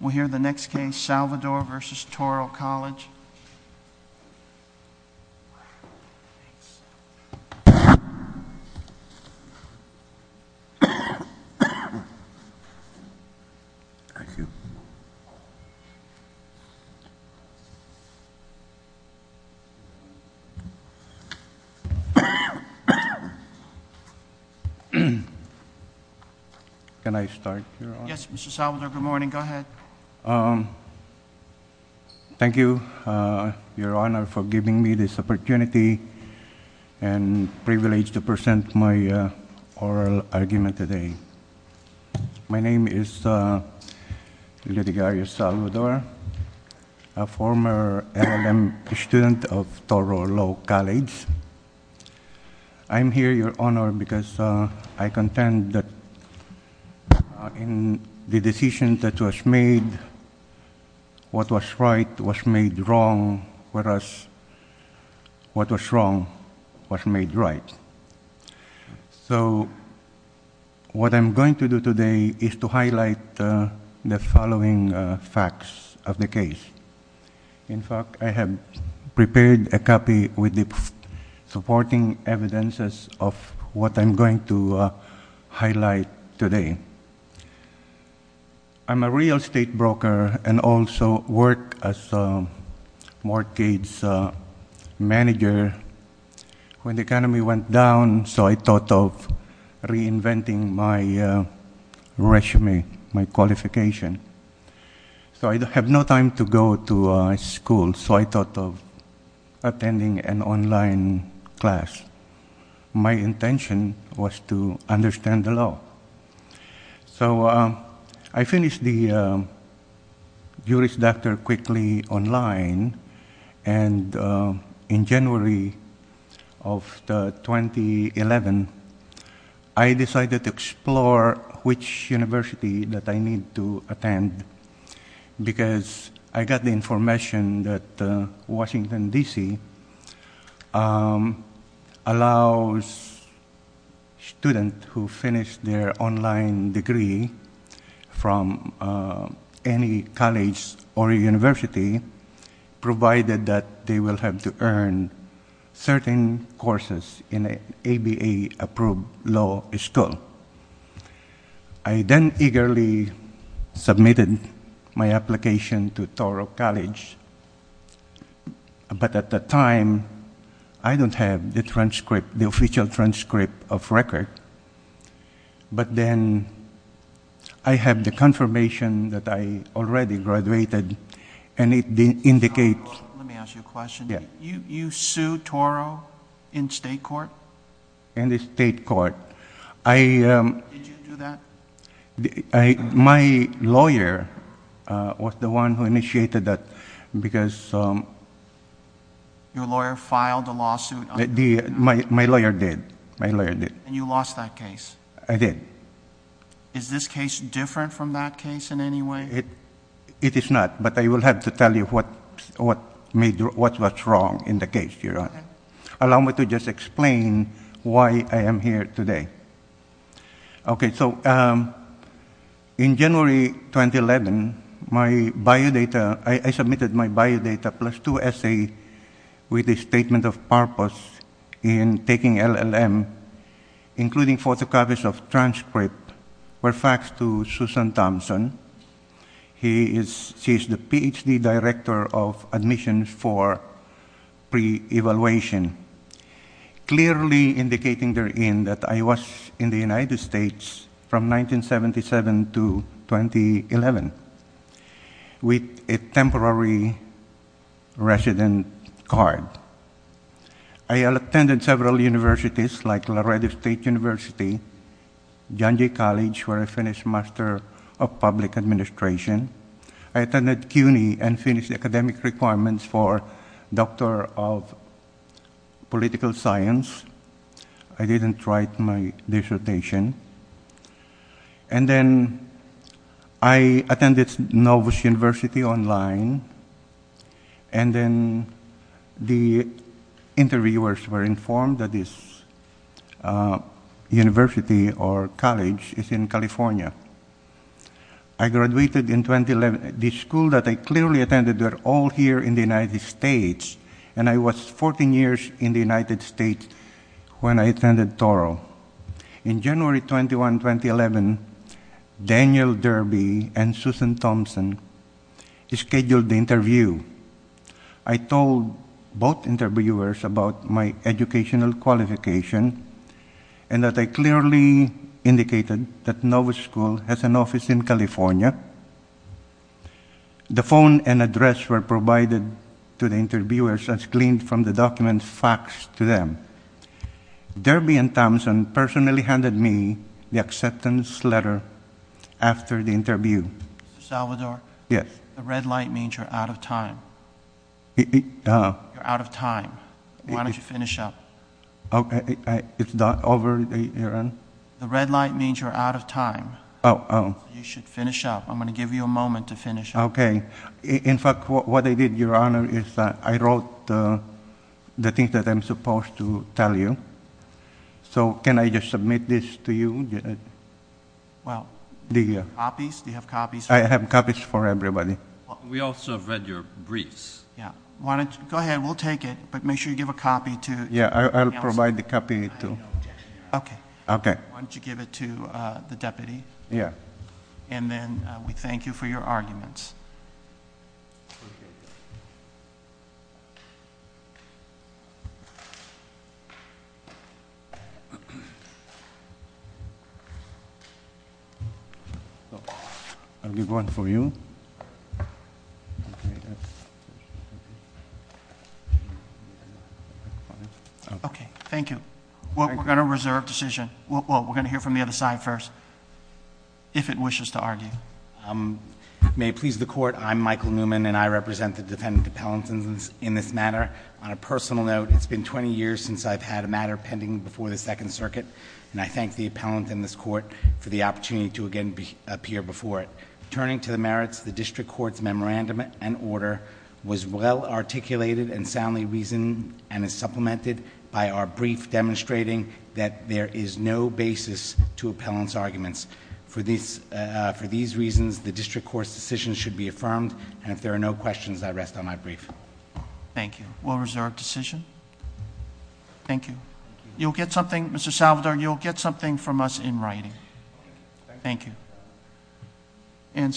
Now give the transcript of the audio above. We'll hear the next case, Salvador v. Touro College. Salvador v. Touro College Can I start, Your Honor? Yes, Mr. Salvador. Good morning. Go ahead. Thank you, Your Honor, for giving me this opportunity and privilege to present my oral argument today. My name is Litigarius Salvador, a former LLM student of Touro Law College. I'm here, Your Honor, because I contend that in the decision that was made, what was right was made wrong, whereas what was wrong was made right. So what I'm going to do today is to highlight the following facts of the case. In fact, I have prepared a copy with the supporting evidences of what I'm going to highlight today. I'm a real estate broker and also worked as a mortgage manager when the economy went down, so I thought of reinventing my resume, my qualification. So I have no time to go to school, so I thought of attending an online class. My intention was to understand the law. So I finished the Juris Doctor quickly online, and in January of 2011, I decided to explore which university that I need to attend, because I got the information that Washington, D.C., allows students who finish their online degree from any college or university, provided that they will have to earn certain courses in an ABA-approved law school. I then eagerly submitted my application to Toro College, but at the time, I don't have the official transcript of record. But then I have the confirmation that I already graduated, and it indicates— Let me ask you a question. Yeah. You sued Toro in state court? In the state court. Did you do that? My lawyer was the one who initiated that, because— Your lawyer filed a lawsuit? My lawyer did. My lawyer did. And you lost that case? I did. Is this case different from that case in any way? It is not, but I will have to tell you what's wrong in the case, Your Honor. Allow me to just explain why I am here today. Okay, so in January 2011, I submitted my biodata plus two essays with a statement of purpose in taking LLM, including photocopies of transcripts, where faxed to Susan Thompson. She is the Ph.D. director of admissions for pre-evaluation, clearly indicating therein that I was in the United States from 1977 to 2011 with a temporary resident card. I attended several universities, like Laredo State University, John Jay College, where I finished master of public administration. I attended CUNY and finished academic requirements for doctor of political science. I didn't write my dissertation. And then I attended Novos University online. And then the interviewers were informed that this university or college is in California. I graduated in 2011. The schools that I clearly attended were all here in the United States, and I was 14 years in the United States when I attended Toro. In January 21, 2011, Daniel Derby and Susan Thompson scheduled the interview. I told both interviewers about my educational qualification and that I clearly indicated that Novos School has an office in California. The phone and address were provided to the interviewers as cleaned from the documents faxed to them. Derby and Thompson personally handed me the acceptance letter after the interview. Mr. Salvador? Yes. The red light means you're out of time. You're out of time. Why don't you finish up? It's not over, Your Honor? The red light means you're out of time. Oh. You should finish up. I'm going to give you a moment to finish up. Okay. In fact, what I did, Your Honor, is I wrote the things that I'm supposed to tell you. So can I just submit this to you? Well, copies? Do you have copies? I have copies for everybody. We also have read your briefs. Go ahead. We'll take it, but make sure you give a copy to everyone else. Yeah, I'll provide the copy. Okay. Okay. Why don't you give it to the deputy? Yeah. And then we thank you for your arguments. I'll give one for you. Okay. Thank you. We're going to reserve decision. We're going to hear from the other side first. If it wishes to argue. May it please the Court, I'm Michael Newman, and I represent the defendant appellant in this matter. On a personal note, it's been 20 years since I've had a matter pending before the Second Circuit, and I thank the appellant in this court for the opportunity to again appear before it. Turning to the merits, the district court's memorandum and order was well articulated and soundly reasoned and is supplemented by our brief demonstrating that there is no basis to appellant's arguments. For these reasons, the district court's decision should be affirmed, and if there are no questions, I rest on my brief. Thank you. We'll reserve decision. Thank you. You'll get something, Mr. Salvador, you'll get something from us in writing. Thank you.